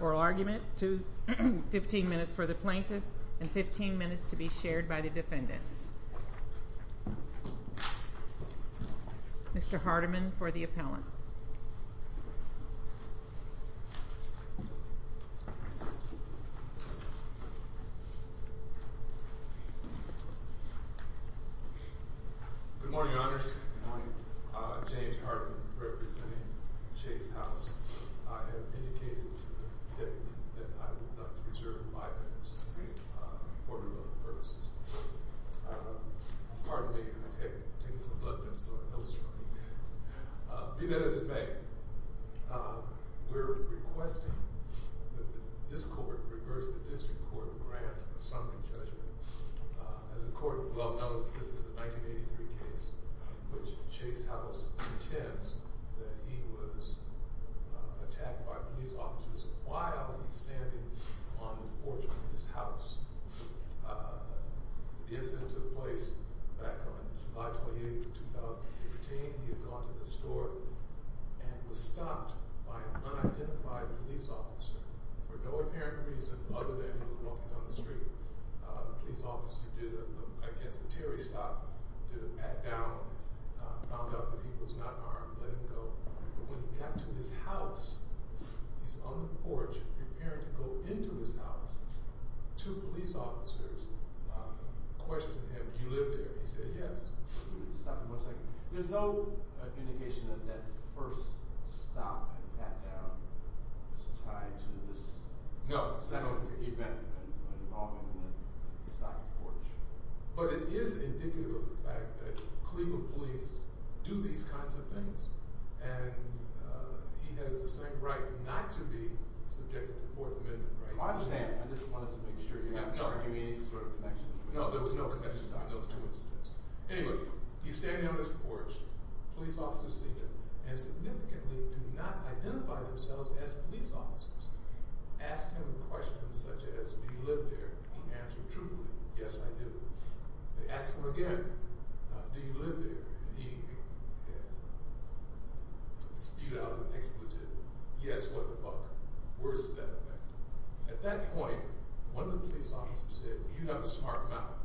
oral argument, 15 minutes for the plaintiff, and 15 minutes to be shared by the defendants. Mr. Hardiman for the appellant. Good morning, Your Honors. Good morning. James Hardiman, representing Chase Howse. I have indicated to the defendant that I would like to reserve five minutes to make an important note of purposes. Pardon me, I'm going to take this blood test so I know it's true. Be that as it may, we're requesting that this court reverse the district court grant of summoning judgment. As the court well knows, this is a 1983 case in which Chase Howse intends that he was attacked by police officers while he's standing on the porch of his house. The incident took place back on July 28, 2016. He had gone to the store and was stopped by an unidentified police officer for no apparent reason other than he was walking down the street. The police officer did, I guess, a Terry stop, did a pat down, found out that he was not armed, let him go. When he got to his house, he's on the porch preparing to go into his house, two police officers questioned him. You live there? He said, yes. Stop for one second. There's no indication that that first stop and pat down is tied to this event involving the stop at the porch. But it is indicative of the fact that Cleveland police do these kinds of things and he has the same right not to be subjected to Fourth Amendment rights. I understand, I just wanted to make sure you're not arguing any sort of connection. No, there was no connection. Anyway, he's standing on his porch. Police officers see him and significantly do not identify themselves as police officers. Ask him questions such as, do you live there? He answered truthfully, yes, I do. They asked him again, do you live there? He spewed out an expletive, yes, what the fuck. Worse than that. At that point, one of the police officers said, you have a smart mouth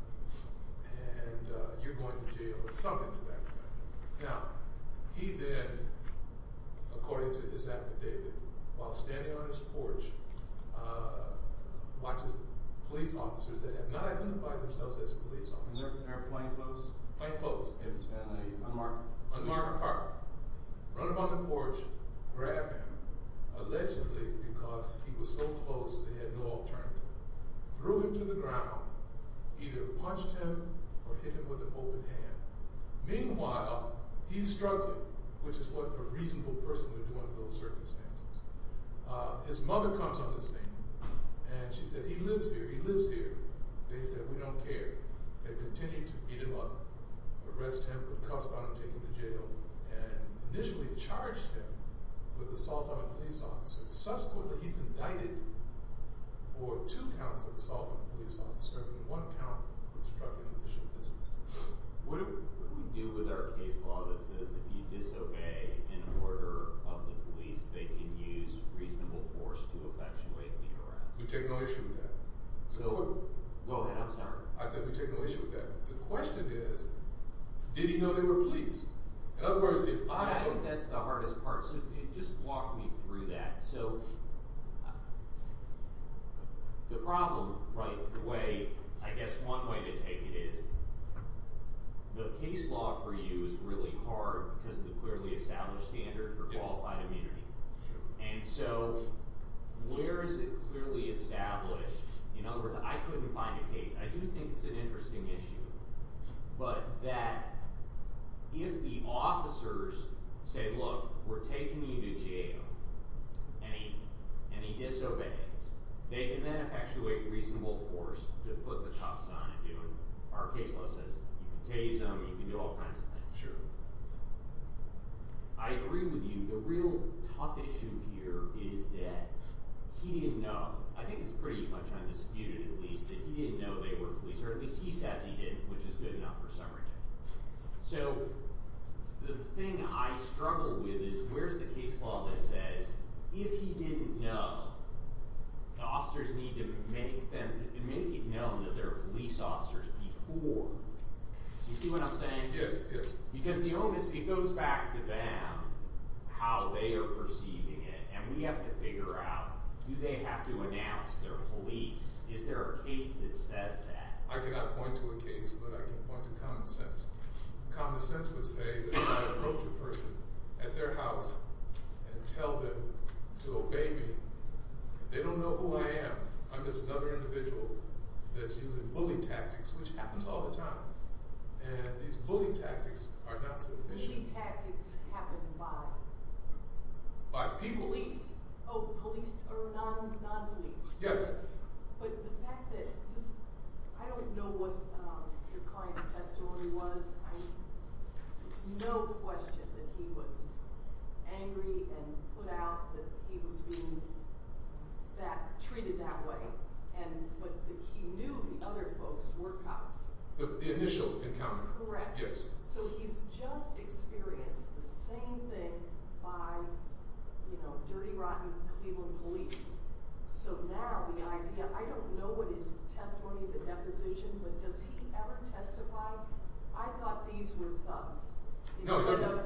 and you're going to jail or something to that effect. Now, he then, according to his affidavit, while standing on his porch, watches police officers that have not identified themselves as police officers. Is there a plainclothes? Plainclothes, yes. And an unmarked car. Run up on the porch, grab him, allegedly because he was so close they had no alternative. Threw him to the ground, either punched him or hit him with an open hand. Meanwhile, he's struggling, which is what a reasonable person would do under those circumstances. His mother comes on the scene and she said, he lives here, he lives here. They said, we don't care. They continued to beat him up, arrest him, put cuffs on him, take him to jail, and initially charged him with assault on a police officer. Subsequently, he's indicted for two counts of assault on a police officer and one count for obstructing official business. What do we do with our case law that says if you disobey an order of the police, they can use reasonable force to effectuate the arrest? We take no issue with that. Go ahead, I'm sorry. I said we take no issue with that. The question is, did he know they were police? In other words, if I— I think that's the hardest part. So if you could just walk me through that. So the problem, right, the way, I guess one way to take it is the case law for you is really hard because of the clearly established standard for qualified immunity. And so where is it clearly established? In other words, I couldn't find a case. I do think it's an interesting issue, but that if the officers say, look, we're taking you to jail, and he disobeys, they can then effectuate reasonable force to put the cuffs on him. Our case law says you can tase him, you can do all kinds of things. I agree with you. The real tough issue here is that he didn't know. I think it's pretty much undisputed, at least, that he didn't know they were police, or at least he says he didn't, which is good enough for some reason. So the thing I struggle with is where's the case law that says if he didn't know, the officers need to make it known that they're police officers before. You see what I'm saying? Yes, yes. Because the onus, it goes back to them, how they are perceiving it, and we have to figure out do they have to announce they're police? Is there a case that says that? I cannot point to a case, but I can point to common sense. Common sense would say that if I approach a person at their house and tell them to obey me, they don't know who I am. I'm just another individual that's using bully tactics, which happens all the time. And these bully tactics are not sufficient. Bully tactics happen by? By people. Police? Oh, police or non-police. Yes. But the fact that, I don't know what the client's testimony was. There's no question that he was angry and put out that he was being treated that way, but he knew the other folks were cops. The initial encounter. Correct. Yes. So he's just experienced the same thing by, you know, dirty, rotten Cleveland police. So now the idea, I don't know what his testimony, the deposition, but does he ever testify? I thought these were thugs. No, they're not.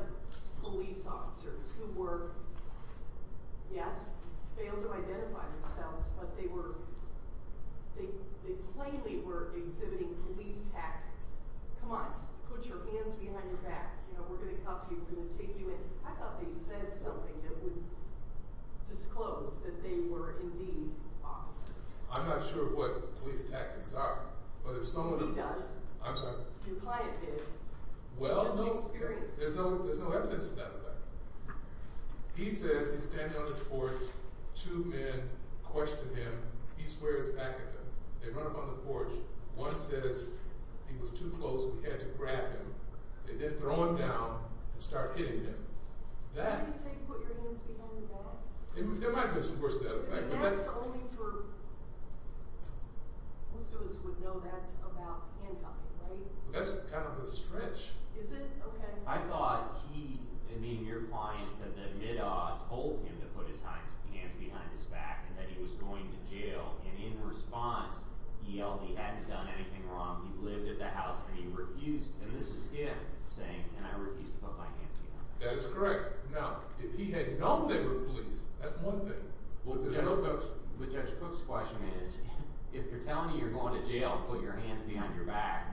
Come on, put your hands behind your back. You know, we're going to cuff you. We're going to take you in. I thought they said something that would disclose that they were indeed officers. I'm not sure what police tactics are, but if someone. He does. I'm sorry. Your client did. Well. He has no experience. There's no evidence to that effect. He says, he's standing on this porch. Two men question him. He swears back at them. They run up on the porch. One says he was too close. We had to grab him. They then throw him down and start hitting him. That. Did he say put your hands behind your back? There might have been some words there. But that's only for. Most of us would know that's about handcuffing, right? That's kind of a stretch. Is it? Okay. I thought he, I mean, your client said that Middaw told him to put his hands behind his back and that he was going to jail. And in response, he yelled, he hadn't done anything wrong. He lived at the house and he refused. And this is him saying, can I refuse to put my hands behind my back? That is correct. Now, if he had known they were police, that's one thing. But Judge Cook's question is, if you're telling you you're going to jail, put your hands behind your back.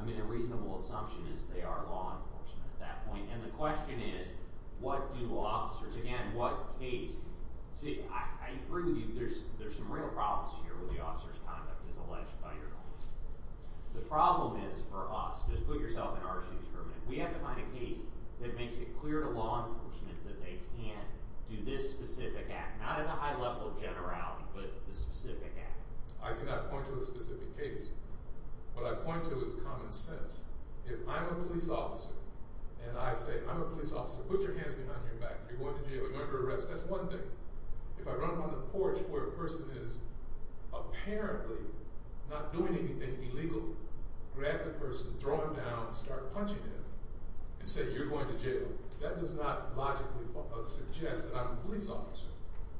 I mean, a reasonable assumption is they are law enforcement at that point. And the question is, what do officers, again, what case? See, I agree with you. There's some real problems here where the officer's conduct is alleged by your law. The problem is for us, just put yourself in our shoes for a minute. We have to find a case that makes it clear to law enforcement that they can do this specific act, not at a high level of generality, but the specific act. I cannot point to a specific case. What I point to is common sense. If I'm a police officer and I say, I'm a police officer, put your hands behind your back. You're going to jail. You're under arrest. That's one thing. If I run up on the porch where a person is apparently not doing anything illegal, grab the person, throw him down, and start punching him and say, you're going to jail, that does not logically suggest that I'm a police officer.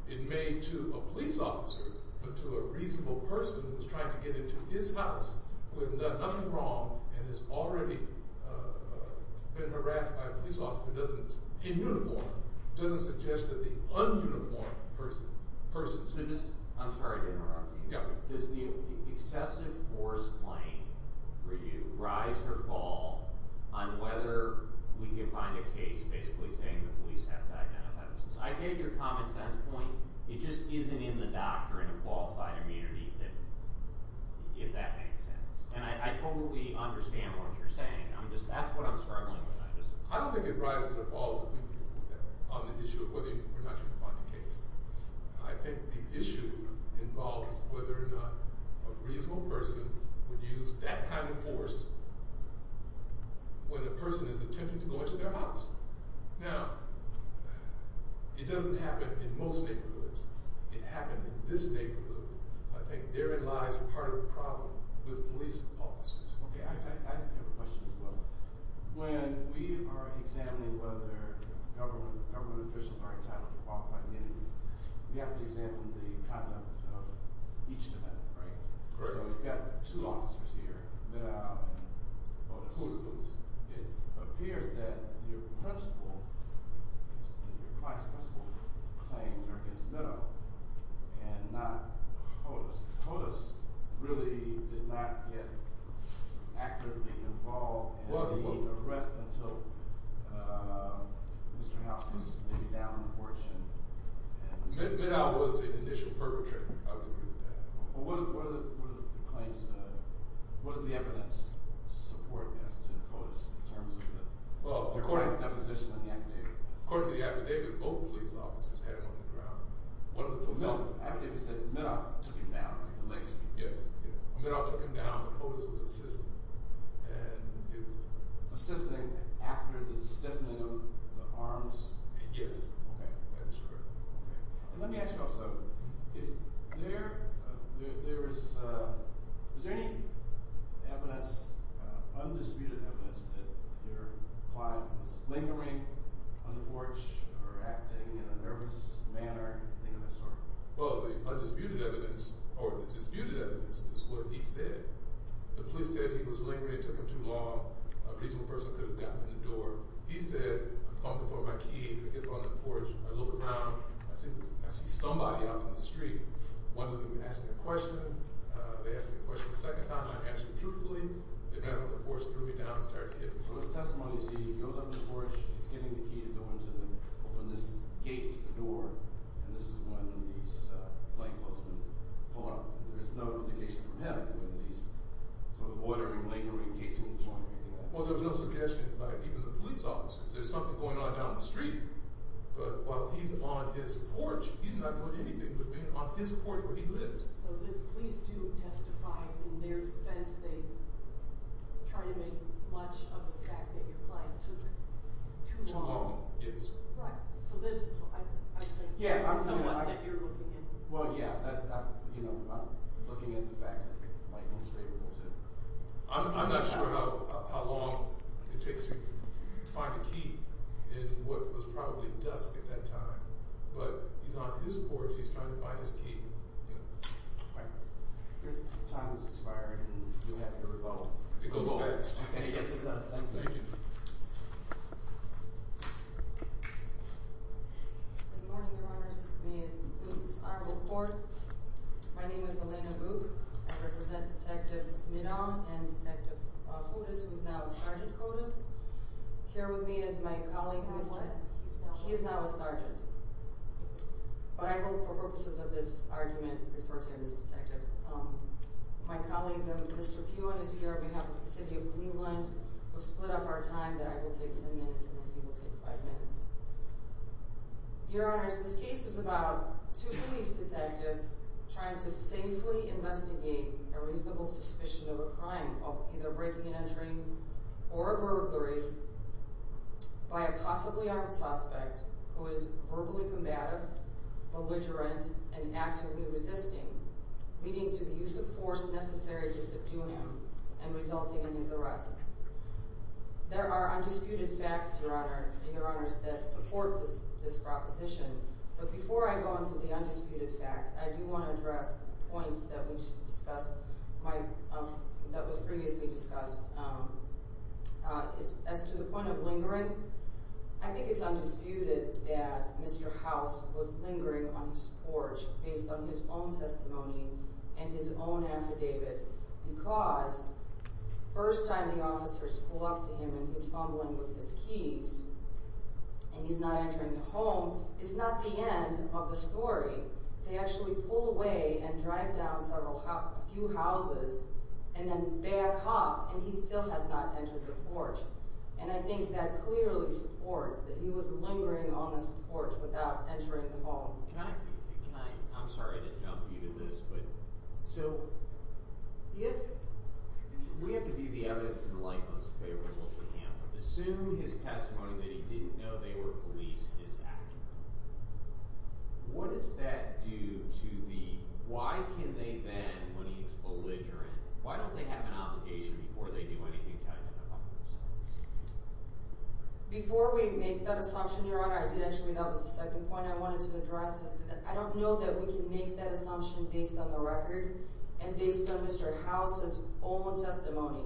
It may to a police officer, but to a reasonable person who's trying to get into his house who hasn't done nothing wrong and has already been harassed by a police officer in uniform doesn't suggest that the un-uniformed person. I'm sorry to interrupt you. Does the excessive force claim for you rise or fall on whether we can find a case basically saying the police have to identify themselves? I get your common sense point. It just isn't in the doctrine of qualified immunity, if that makes sense. And I totally understand what you're saying. That's what I'm struggling with. I don't think it rises or falls on the issue of whether or not you can find a case. I think the issue involves whether or not a reasonable person would use that kind of force when a person is attempting to go into their house. Now, it doesn't happen in most neighborhoods. It happens in this neighborhood. I think therein lies part of the problem with police officers. Okay, I have a question as well. When we are examining whether government officials are entitled to qualified immunity, we have to examine the conduct of each of them, right? Correct. So you've got two officers here, Meadow and Otis. Otis. It appears that your principle, your class principle claims are against Meadow and not Otis. Otis really did not get actively involved in the arrest until Mr. House was maybe down on the porch. Meadow was the initial perpetrator. I would agree with that. What are the claims? What does the evidence support as to Otis in terms of the court's deposition in the affidavit? According to the affidavit, both police officers had him on the ground. The affidavit said Meadow took him down. Yes. Meadow took him down, but Otis was assisted. Assisted after the stiffening of the arms? Yes. Okay, that's correct. And let me ask you also, is there any evidence, undisputed evidence, that your client was lingering on the porch or acting in a nervous manner? Well, the undisputed evidence or the disputed evidence is what he said. The police said he was lingering, it took him too long, a reasonable person could have gotten in the door. He said, I'm calling for my key, I get up on the porch, I look around, I see somebody out in the street. One of them is asking a question. They ask me a question a second time, I answer truthfully. They grab me on the porch, threw me down, and started hitting me. So his testimony is he goes up on the porch, he's getting the key to go into the – open this gate to the door, and this is when these light postmen pull up. There is no indication from him whether he's sort of ordering, lingering, casing the joint or anything like that. Well, there was no suggestion by even the police officers. There's something going on down the street. But while he's on his porch, he's not doing anything but being on his porch where he lives. The police do testify in their defense. They try to make much of the fact that your client took too long. Too long, yes. Right. So this, I think, is someone that you're looking at. Well, yeah. You know, I'm looking at the facts that might be favorable to. I'm not sure how long it takes to find a key in what was probably dusk at that time. But he's on his porch. He's trying to find his key. Right. Your time has expired, and you have your rebuttal. It goes fast. Yes, it does. Thank you. Thank you. Good morning, Your Honors. The police is on report. My name is Elena Boock. I represent Detectives Meadom and Detective Otis, who is now Sergeant Otis. Here with me is my colleague, Mr.— He's not a sergeant. He is not a sergeant. But I will, for purposes of this argument, refer to him as a detective. My colleague, Mr. Pewin, is here on behalf of the city of Cleveland. We've split up our time. I will take ten minutes, and then he will take five minutes. Your Honors, this case is about two police detectives trying to safely investigate a reasonable suspicion of a crime of either breaking and entering or a burglary by a possibly armed suspect who is verbally combative, belligerent, and actively resisting, leading to the use of force necessary to subdue him and resulting in his arrest. There are undisputed facts, Your Honor, and Your Honors, that support this proposition. But before I go into the undisputed facts, I do want to address points that we just discussed— that was previously discussed. As to the point of lingering, I think it's undisputed that Mr. House was lingering on his porch based on his own testimony and his own affidavit because the first time the officers pull up to him and he's fumbling with his keys and he's not entering the home, it's not the end of the story. They actually pull away and drive down a few houses and then back up, and he still has not entered the porch. And I think that clearly supports that he was lingering on his porch without entering the home. Can I—I'm sorry to jump you to this, but— So, if— We have to do the evidence in the light that's favorable to him. Assume his testimony that he didn't know they were police is accurate. What does that do to the—why can they then, when he's belligerent, why don't they have an obligation before they do anything to identify themselves? Before we make that assumption, Your Honor, I did actually—that was the second point— I don't know that we can make that assumption based on the record and based on Mr. House's own testimony.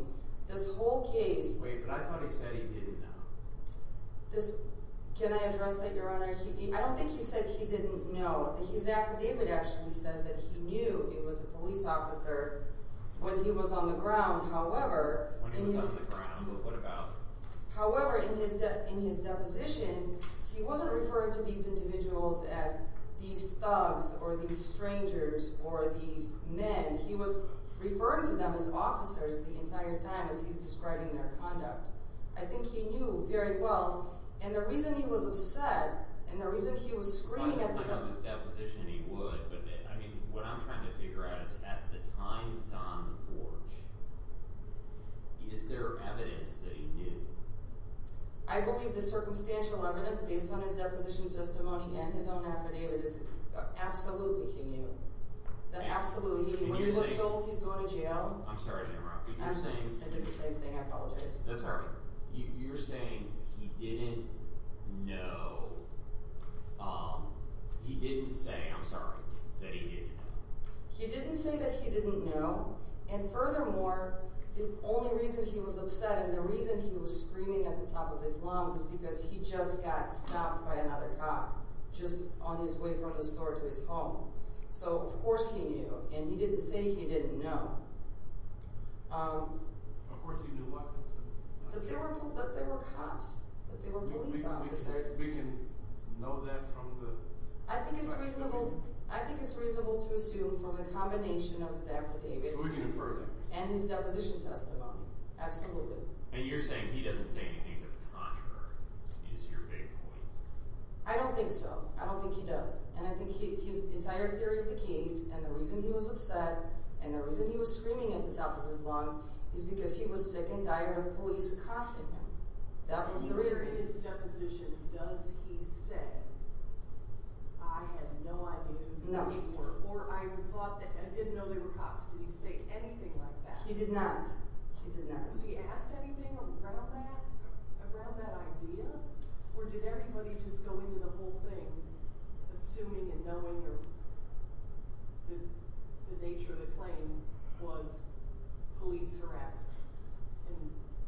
This whole case— Wait, but I thought he said he didn't know. This—can I address that, Your Honor? I don't think he said he didn't know. His affidavit actually says that he knew it was a police officer when he was on the ground. However— When he was on the ground, what about? However, in his deposition, he wasn't referring to these individuals as these thugs or these strangers or these men. He was referring to them as officers the entire time as he's describing their conduct. I think he knew very well. And the reason he was upset and the reason he was screaming at the— I could have his deposition and he would, but I mean, what I'm trying to figure out is at the time he was on the porch, is there evidence that he knew? I believe the circumstantial evidence based on his deposition testimony and his own affidavit is absolutely he knew. Absolutely. When he was told he's going to jail— I'm sorry to interrupt, but you're saying— I did the same thing. I apologize. That's all right. You're saying he didn't know—he didn't say, I'm sorry, that he didn't know. He didn't say that he didn't know, and furthermore, the only reason he was upset and the reason he was screaming at the top of his lungs is because he just got stopped by another cop just on his way from the store to his home. So of course he knew, and he didn't say he didn't know. Of course he knew what? That there were cops, that there were police officers. We can know that from the— I think it's reasonable to assume from the combination of his affidavit and his deposition testimony. Absolutely. And you're saying he doesn't say anything to the contrary is your big point? I don't think so. I don't think he does. And I think his entire theory of the case and the reason he was upset and the reason he was screaming at the top of his lungs is because he was sick and tired of police accosting him. In his deposition, does he say, I had no idea who these people were, or I didn't know they were cops. Did he say anything like that? He did not. Was he asked anything around that idea? Or did everybody just go into the whole thing assuming and knowing that the nature of the claim was police harassed and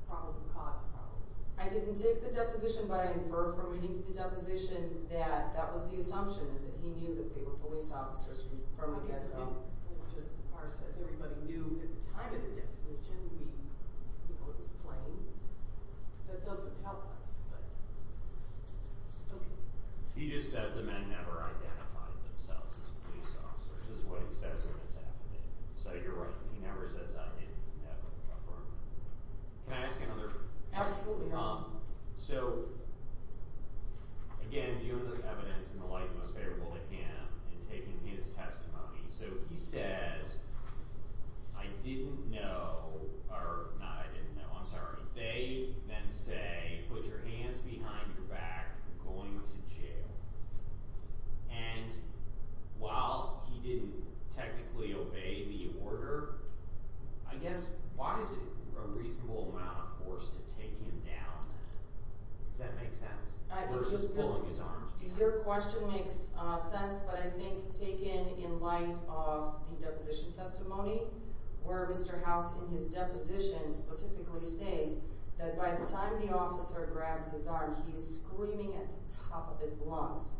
probably caused problems? I didn't take the deposition, but I infer from reading the deposition that that was the assumption, is that he knew that they were police officers from the get-go. As far as everybody knew at the time of the deposition, we knew it was claimed. That doesn't help us, but okay. He just says the men never identified themselves as police officers. That's what he says in his affidavit. So you're right. He never says I didn't have an affirmative. Can I ask you another— Absolutely not. So, again, you have the evidence in the light most favorable to him in taking his testimony. So he says, I didn't know—or, no, I didn't know, I'm sorry. They then say, put your hands behind your back. You're going to jail. And while he didn't technically obey the order, I guess why is it a reasonable amount of force to take him down then? Does that make sense versus pulling his arms back? Your question makes sense, but I think taken in light of the deposition testimony, where Mr. House in his deposition specifically states that by the time the officer grabs his arm, he is screaming at the top of his lungs.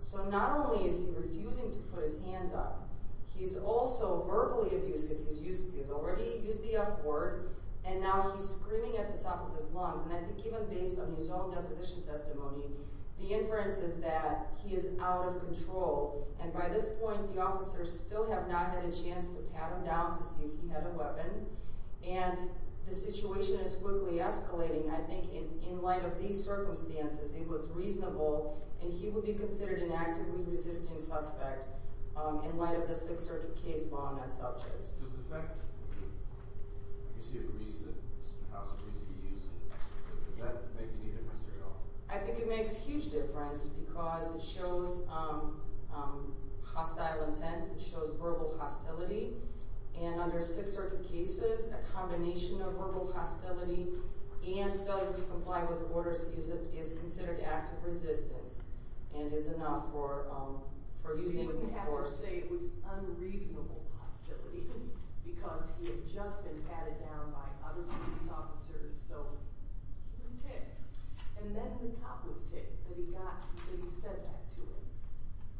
So not only is he refusing to put his hands up, he's also verbally abusive. He's already used the F word. And now he's screaming at the top of his lungs. And I think even based on his own deposition testimony, the inference is that he is out of control. And by this point, the officers still have not had a chance to pat him down to see if he had a weapon. And the situation is quickly escalating. I think in light of these circumstances, it was reasonable, and he would be considered an actively resisting suspect in light of the Sixth Circuit case law on that subject. Does it affect how Mr. House agrees to be used? Does that make any difference at all? I think it makes a huge difference because it shows hostile intent. It shows verbal hostility. And under Sixth Circuit cases, a combination of verbal hostility and failure to comply with orders is considered active resistance and is enough for using force. You wouldn't have to say it was unreasonable hostility because he had just been patted down by other police officers. So he was ticked. And then the cop was ticked that he got, that he said that to him.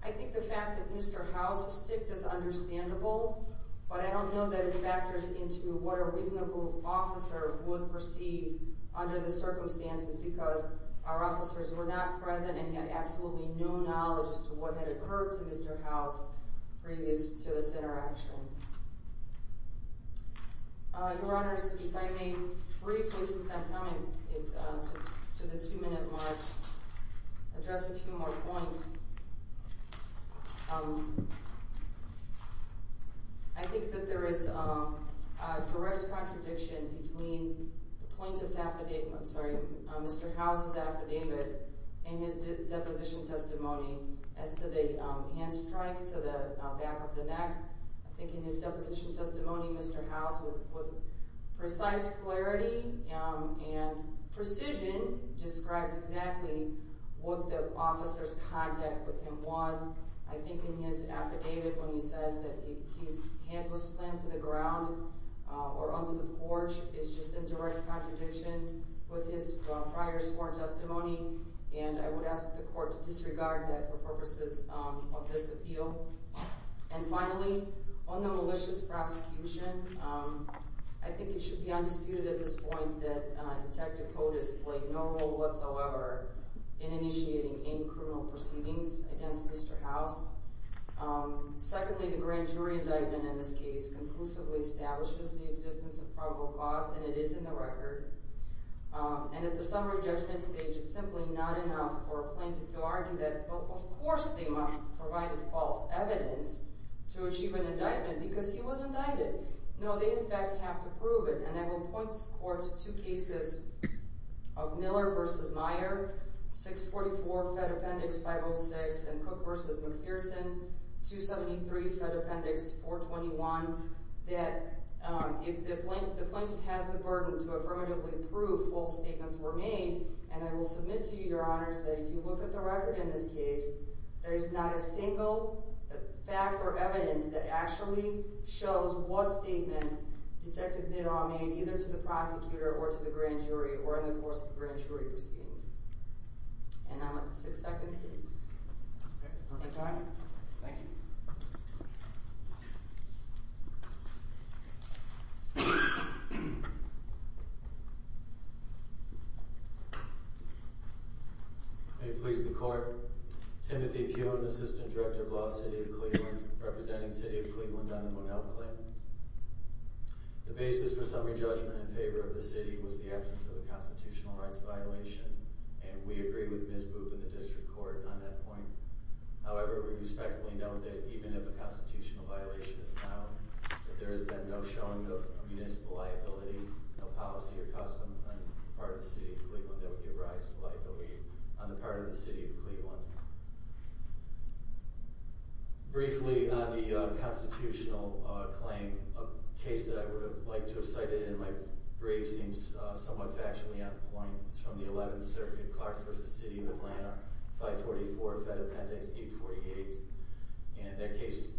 I think the fact that Mr. House was ticked is understandable, but I don't know that it factors into what a reasonable officer would perceive under the circumstances because our officers were not present and had absolutely no knowledge as to what had occurred to Mr. House previous to this interaction. Your Honor, if I may briefly, since I'm coming to the two-minute mark, address a few more points. I think that there is a direct contradiction between Mr. House's affidavit and his deposition testimony as to the hand strike to the back of the neck. I think in his deposition testimony, Mr. House, with precise clarity and precision, describes exactly what the officer's contact with him was. I think in his affidavit when he says that his hand was slammed to the ground or onto the porch, it's just a direct contradiction with his prior sworn testimony, and I would ask the Court to disregard that for purposes of this appeal. And finally, on the malicious prosecution, I think it should be undisputed at this point that Detective Kotis played no role whatsoever in initiating any criminal proceedings against Mr. House. Secondly, the grand jury indictment in this case conclusively establishes the existence of probable cause, and it is in the record. And at the summary judgment stage, it's simply not enough for a plaintiff to argue that, well, of course they must have provided false evidence to achieve an indictment because he was indicted. No, they in fact have to prove it. And I will point this Court to two cases of Miller v. Meyer, 644 Fed Appendix 506, and Cook v. McPherson, 273 Fed Appendix 421, that if the plaintiff has the burden to affirmatively prove false statements were made, and I will submit to you, Your Honors, that if you look at the record in this case, there is not a single fact or evidence that actually shows what statements Detective Miller made, either to the prosecutor or to the grand jury or in the course of the grand jury proceedings. And I'm at the six seconds. Perfect time. Thank you. May it please the Court, Timothy Kuhn, Assistant Director of Law, City of Cleveland, representing City of Cleveland on the Monell claim. The basis for summary judgment in favor of the city was the absence of a constitutional rights violation, and we agree with Ms. Boop and the district court on that point. However, we respectfully note that even if a constitutional violation is found, that there has been no showing of municipal liability, no policy or custom on the part of the City of Cleveland that would give rise to liability on the part of the City of Cleveland. Briefly on the constitutional claim, a case that I would have liked to have cited in my brief seems somewhat factually on point. It's from the 11th Circuit, Clark v. City of Atlanta, 544 Fed Appendix 848, and their case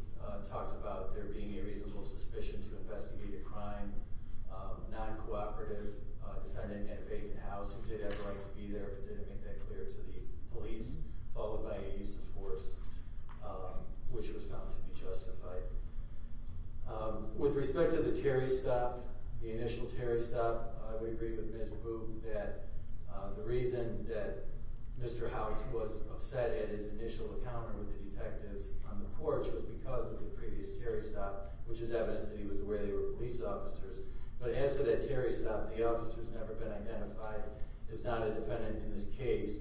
talks about there being a reasonable suspicion to investigate a crime, a non-cooperative defendant at a vacant house who did have the right to be there but didn't make that clear to the police, followed by a use of force, which was found to be justified. With respect to the Terry stop, the initial Terry stop, we agree with Ms. Boop that the reason that Mr. House was upset at his initial encounter with the detectives on the porch was because of the previous Terry stop, which is evidence that he was aware they were police officers. But as to that Terry stop, the officer has never been identified as not a defendant in this case.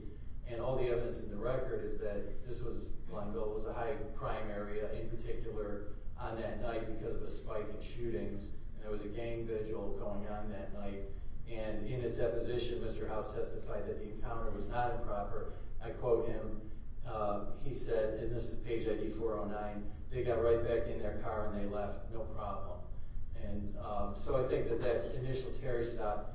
And all the evidence in the record is that this was Blundell, it was a high crime area, in particular on that night because of a spike in shootings, and there was a gang vigil going on that night. And in his deposition, Mr. House testified that the encounter was not improper. I quote him, he said, and this is page ID 409, they got right back in their car and they left no problem. And so I think that that initial Terry stop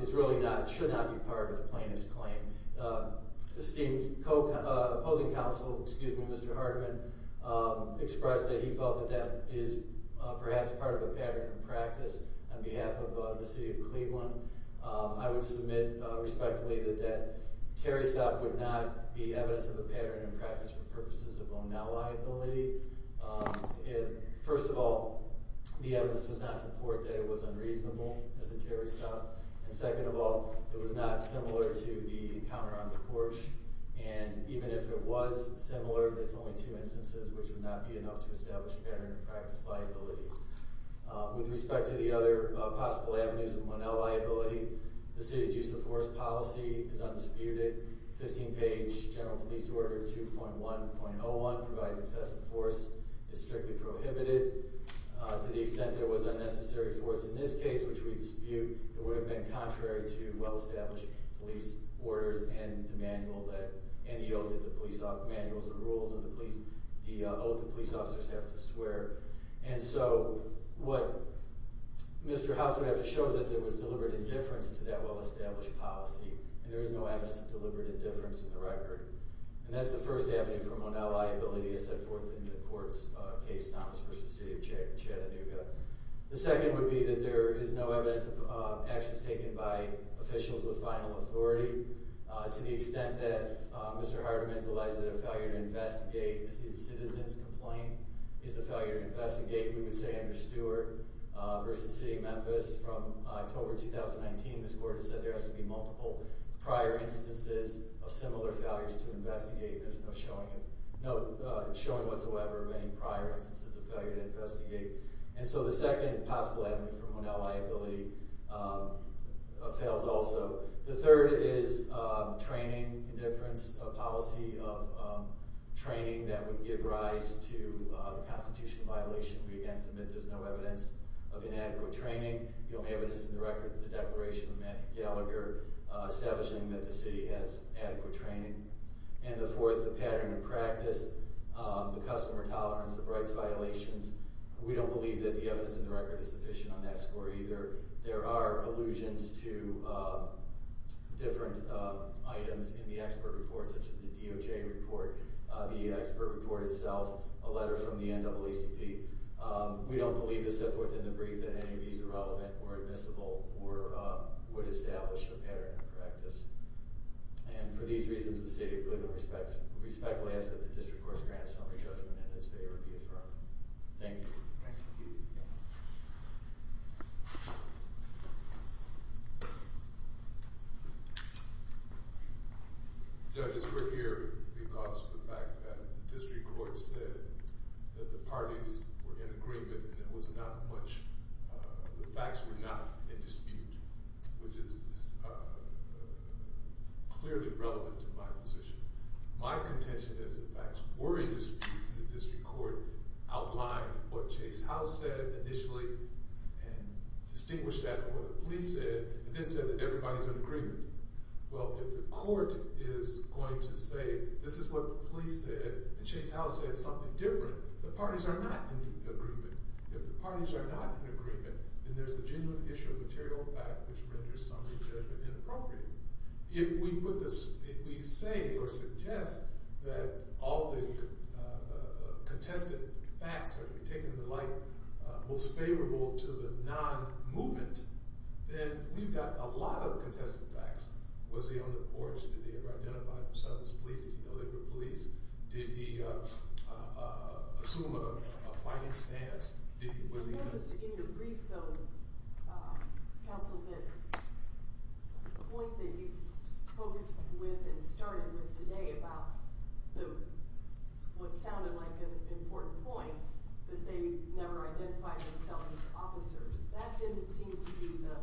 is really not, should not be part of the plaintiff's claim. The opposing counsel, excuse me, Mr. Hardeman, expressed that he felt that that is perhaps part of a pattern of practice on behalf of the city of Cleveland. I would submit respectfully that that Terry stop would not be evidence of a pattern of practice for purposes of Bonnell liability. First of all, the evidence does not support that it was unreasonable as a Terry stop. And second of all, it was not similar to the encounter on the porch. And even if it was similar, there's only two instances which would not be enough to establish pattern of practice liability. With respect to the other possible avenues of Bonnell liability, the city's use of force policy is undisputed. 15 page general police order 2.1.01 provides excessive force, is strictly prohibited. To the extent there was unnecessary force in this case, which we dispute, it would have been contrary to well-established police orders and the manual that, and the oath that the police, manuals and rules of the police, the oath that police officers have to swear. And so what Mr. House would have to show is that there was deliberate indifference to that well-established policy. And there is no evidence of deliberate indifference in the record. And that's the first avenue for Bonnell liability as set forth in the court's case, Thomas v. City of Chattanooga. The second would be that there is no evidence of actions taken by officials with final authority. To the extent that Mr. Hardiman's alleged failure to investigate a citizen's complaint is a failure to investigate, we would say under Stewart v. City of Memphis from October 2019, this court has said there has to be multiple prior instances of similar failures to investigate. There's no showing whatsoever of any prior instances of failure to investigate. And so the second possible avenue for Bonnell liability fails also. The third is training indifference, a policy of training that would give rise to a constitutional violation. We, again, submit there's no evidence of inadequate training. The only evidence in the record is the Declaration of Matthew Gallagher establishing that the city has adequate training. And the fourth, the pattern of practice, the customer tolerance, the rights violations. We don't believe that the evidence in the record is sufficient on that score either. There are allusions to different items in the expert report, such as the DOJ report, the expert report itself, a letter from the NAACP. We don't believe to set forth in the brief that any of these are relevant or admissible or would establish a pattern of practice. And for these reasons, the City of Cleveland respectfully asks that the district courts grant a summary judgment and that its favor be affirmed. Thank you. Thank you. Judges, we're here because of the fact that the district court said that the parties were in agreement and there was not much. The facts were not in dispute, which is clearly relevant to my position. My contention is the facts were in dispute and the district court outlined what Chase House said initially and distinguished that from what the police said and then said that everybody's in agreement. Well, if the court is going to say this is what the police said and Chase House said something different, the parties are not in agreement. If the parties are not in agreement, then there's a genuine issue of material fact which renders summary judgment inappropriate. If we put this – if we say or suggest that all the contested facts are to be taken in the light most favorable to the non-movement, then we've got a lot of contested facts. Was he on the porch? Did they ever identify himself as police? Did he know they were police? Did he assume a fighting stance? In your brief, though, counsel, the point that you focused with and started with today about what sounded like an important point, that they never identified themselves as officers. That didn't seem to be the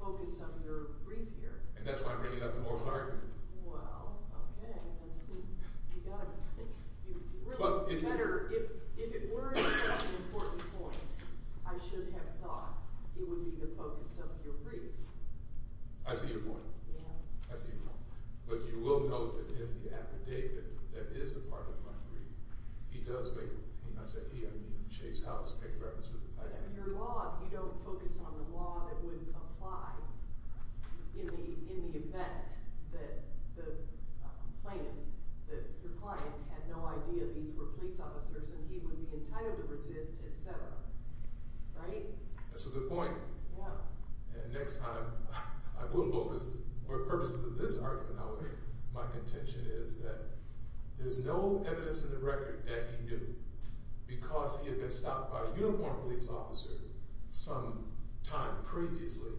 focus of your brief here. And that's why I'm bringing it up in more clarity. Well, okay. That's – you've got to – you really better – if it weren't such an important point, I should have thought it would be the focus of your brief. I see your point. I see your point. But you will note that in the affidavit that is a part of my brief, he does make – I say he, I mean Chase House, paying reference to the Titanic. But in your law, you don't focus on the law that would apply in the event that the plaintiff, that your client, had no idea these were police officers and he would be entitled to resist, et cetera. Right? That's a good point. Yeah. And next time I will focus – for purposes of this argument, my contention is that there's no evidence in the record that he knew because he had been stopped by a uniformed police officer sometime previously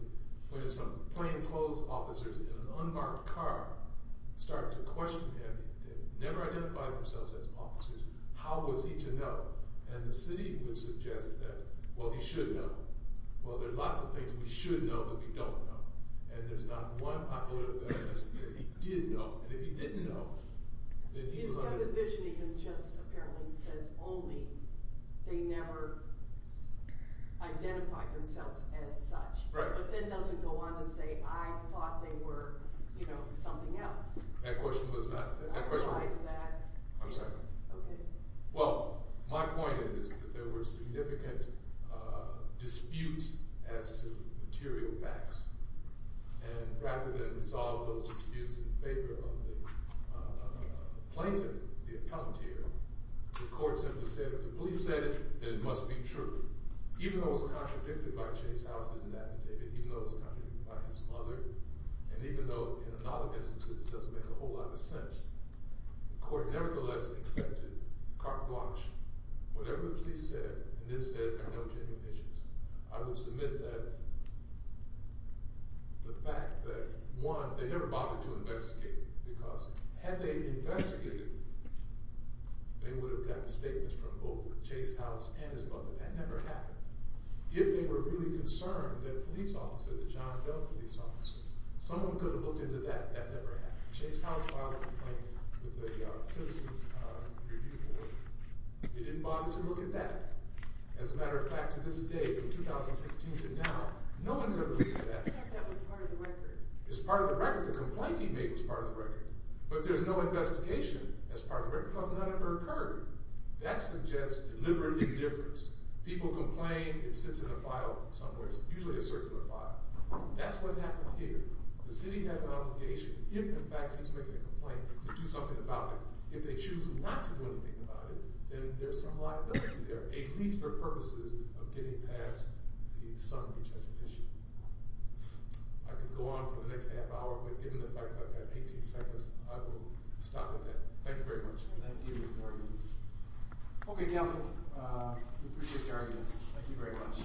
when some plainclothes officers in an unmarked car started to question him. They never identified themselves as officers. How was he to know? And the city would suggest that, well, he should know. Well, there's lots of things we should know that we don't know. And there's not one popular evidence that he did know. And if he didn't know, then he was – His deposition even just apparently says only they never identified themselves as such. Right. But that doesn't go on to say I thought they were something else. That question was not – Otherwise that – I'm sorry. Okay. Well, my point is that there were significant disputes as to material facts. And rather than resolve those disputes in favor of the plaintiff, the appellant here, the court simply said if the police said it, then it must be true. Even though it was contradicted by Chase House and an affidavit, even though it was contradicted by his mother, and even though in a lot of instances it doesn't make a whole lot of sense, the court nevertheless accepted, carte blanche, whatever the police said, and then said there are no genuine issues. I will submit that the fact that, one, they never bothered to investigate because had they investigated, they would have gotten statements from both Chase House and his mother. That never happened. If they were really concerned that a police officer, the John Doe police officer, someone could have looked into that, that never happened. Chase House filed a complaint with the Citizens Review Board. They didn't bother to look at that. As a matter of fact, to this day, from 2016 to now, no one's ever looked at that. That was part of the record. It's part of the record. The complaint he made was part of the record. But there's no investigation as part of the record because none ever occurred. That suggests deliberate indifference. People complain, it sits in a file somewhere, usually a circular file. That's what happened here. The city had an obligation, if in fact he's making a complaint, to do something about it. If they choose not to do anything about it, then there's some liability there, at least for purposes of getting past the summary judgment issue. I could go on for the next half hour, but given the fact that I've got 18 seconds, I will stop at that. Thank you very much. Thank you. Okay, counsel, we appreciate your arguments. Thank you very much.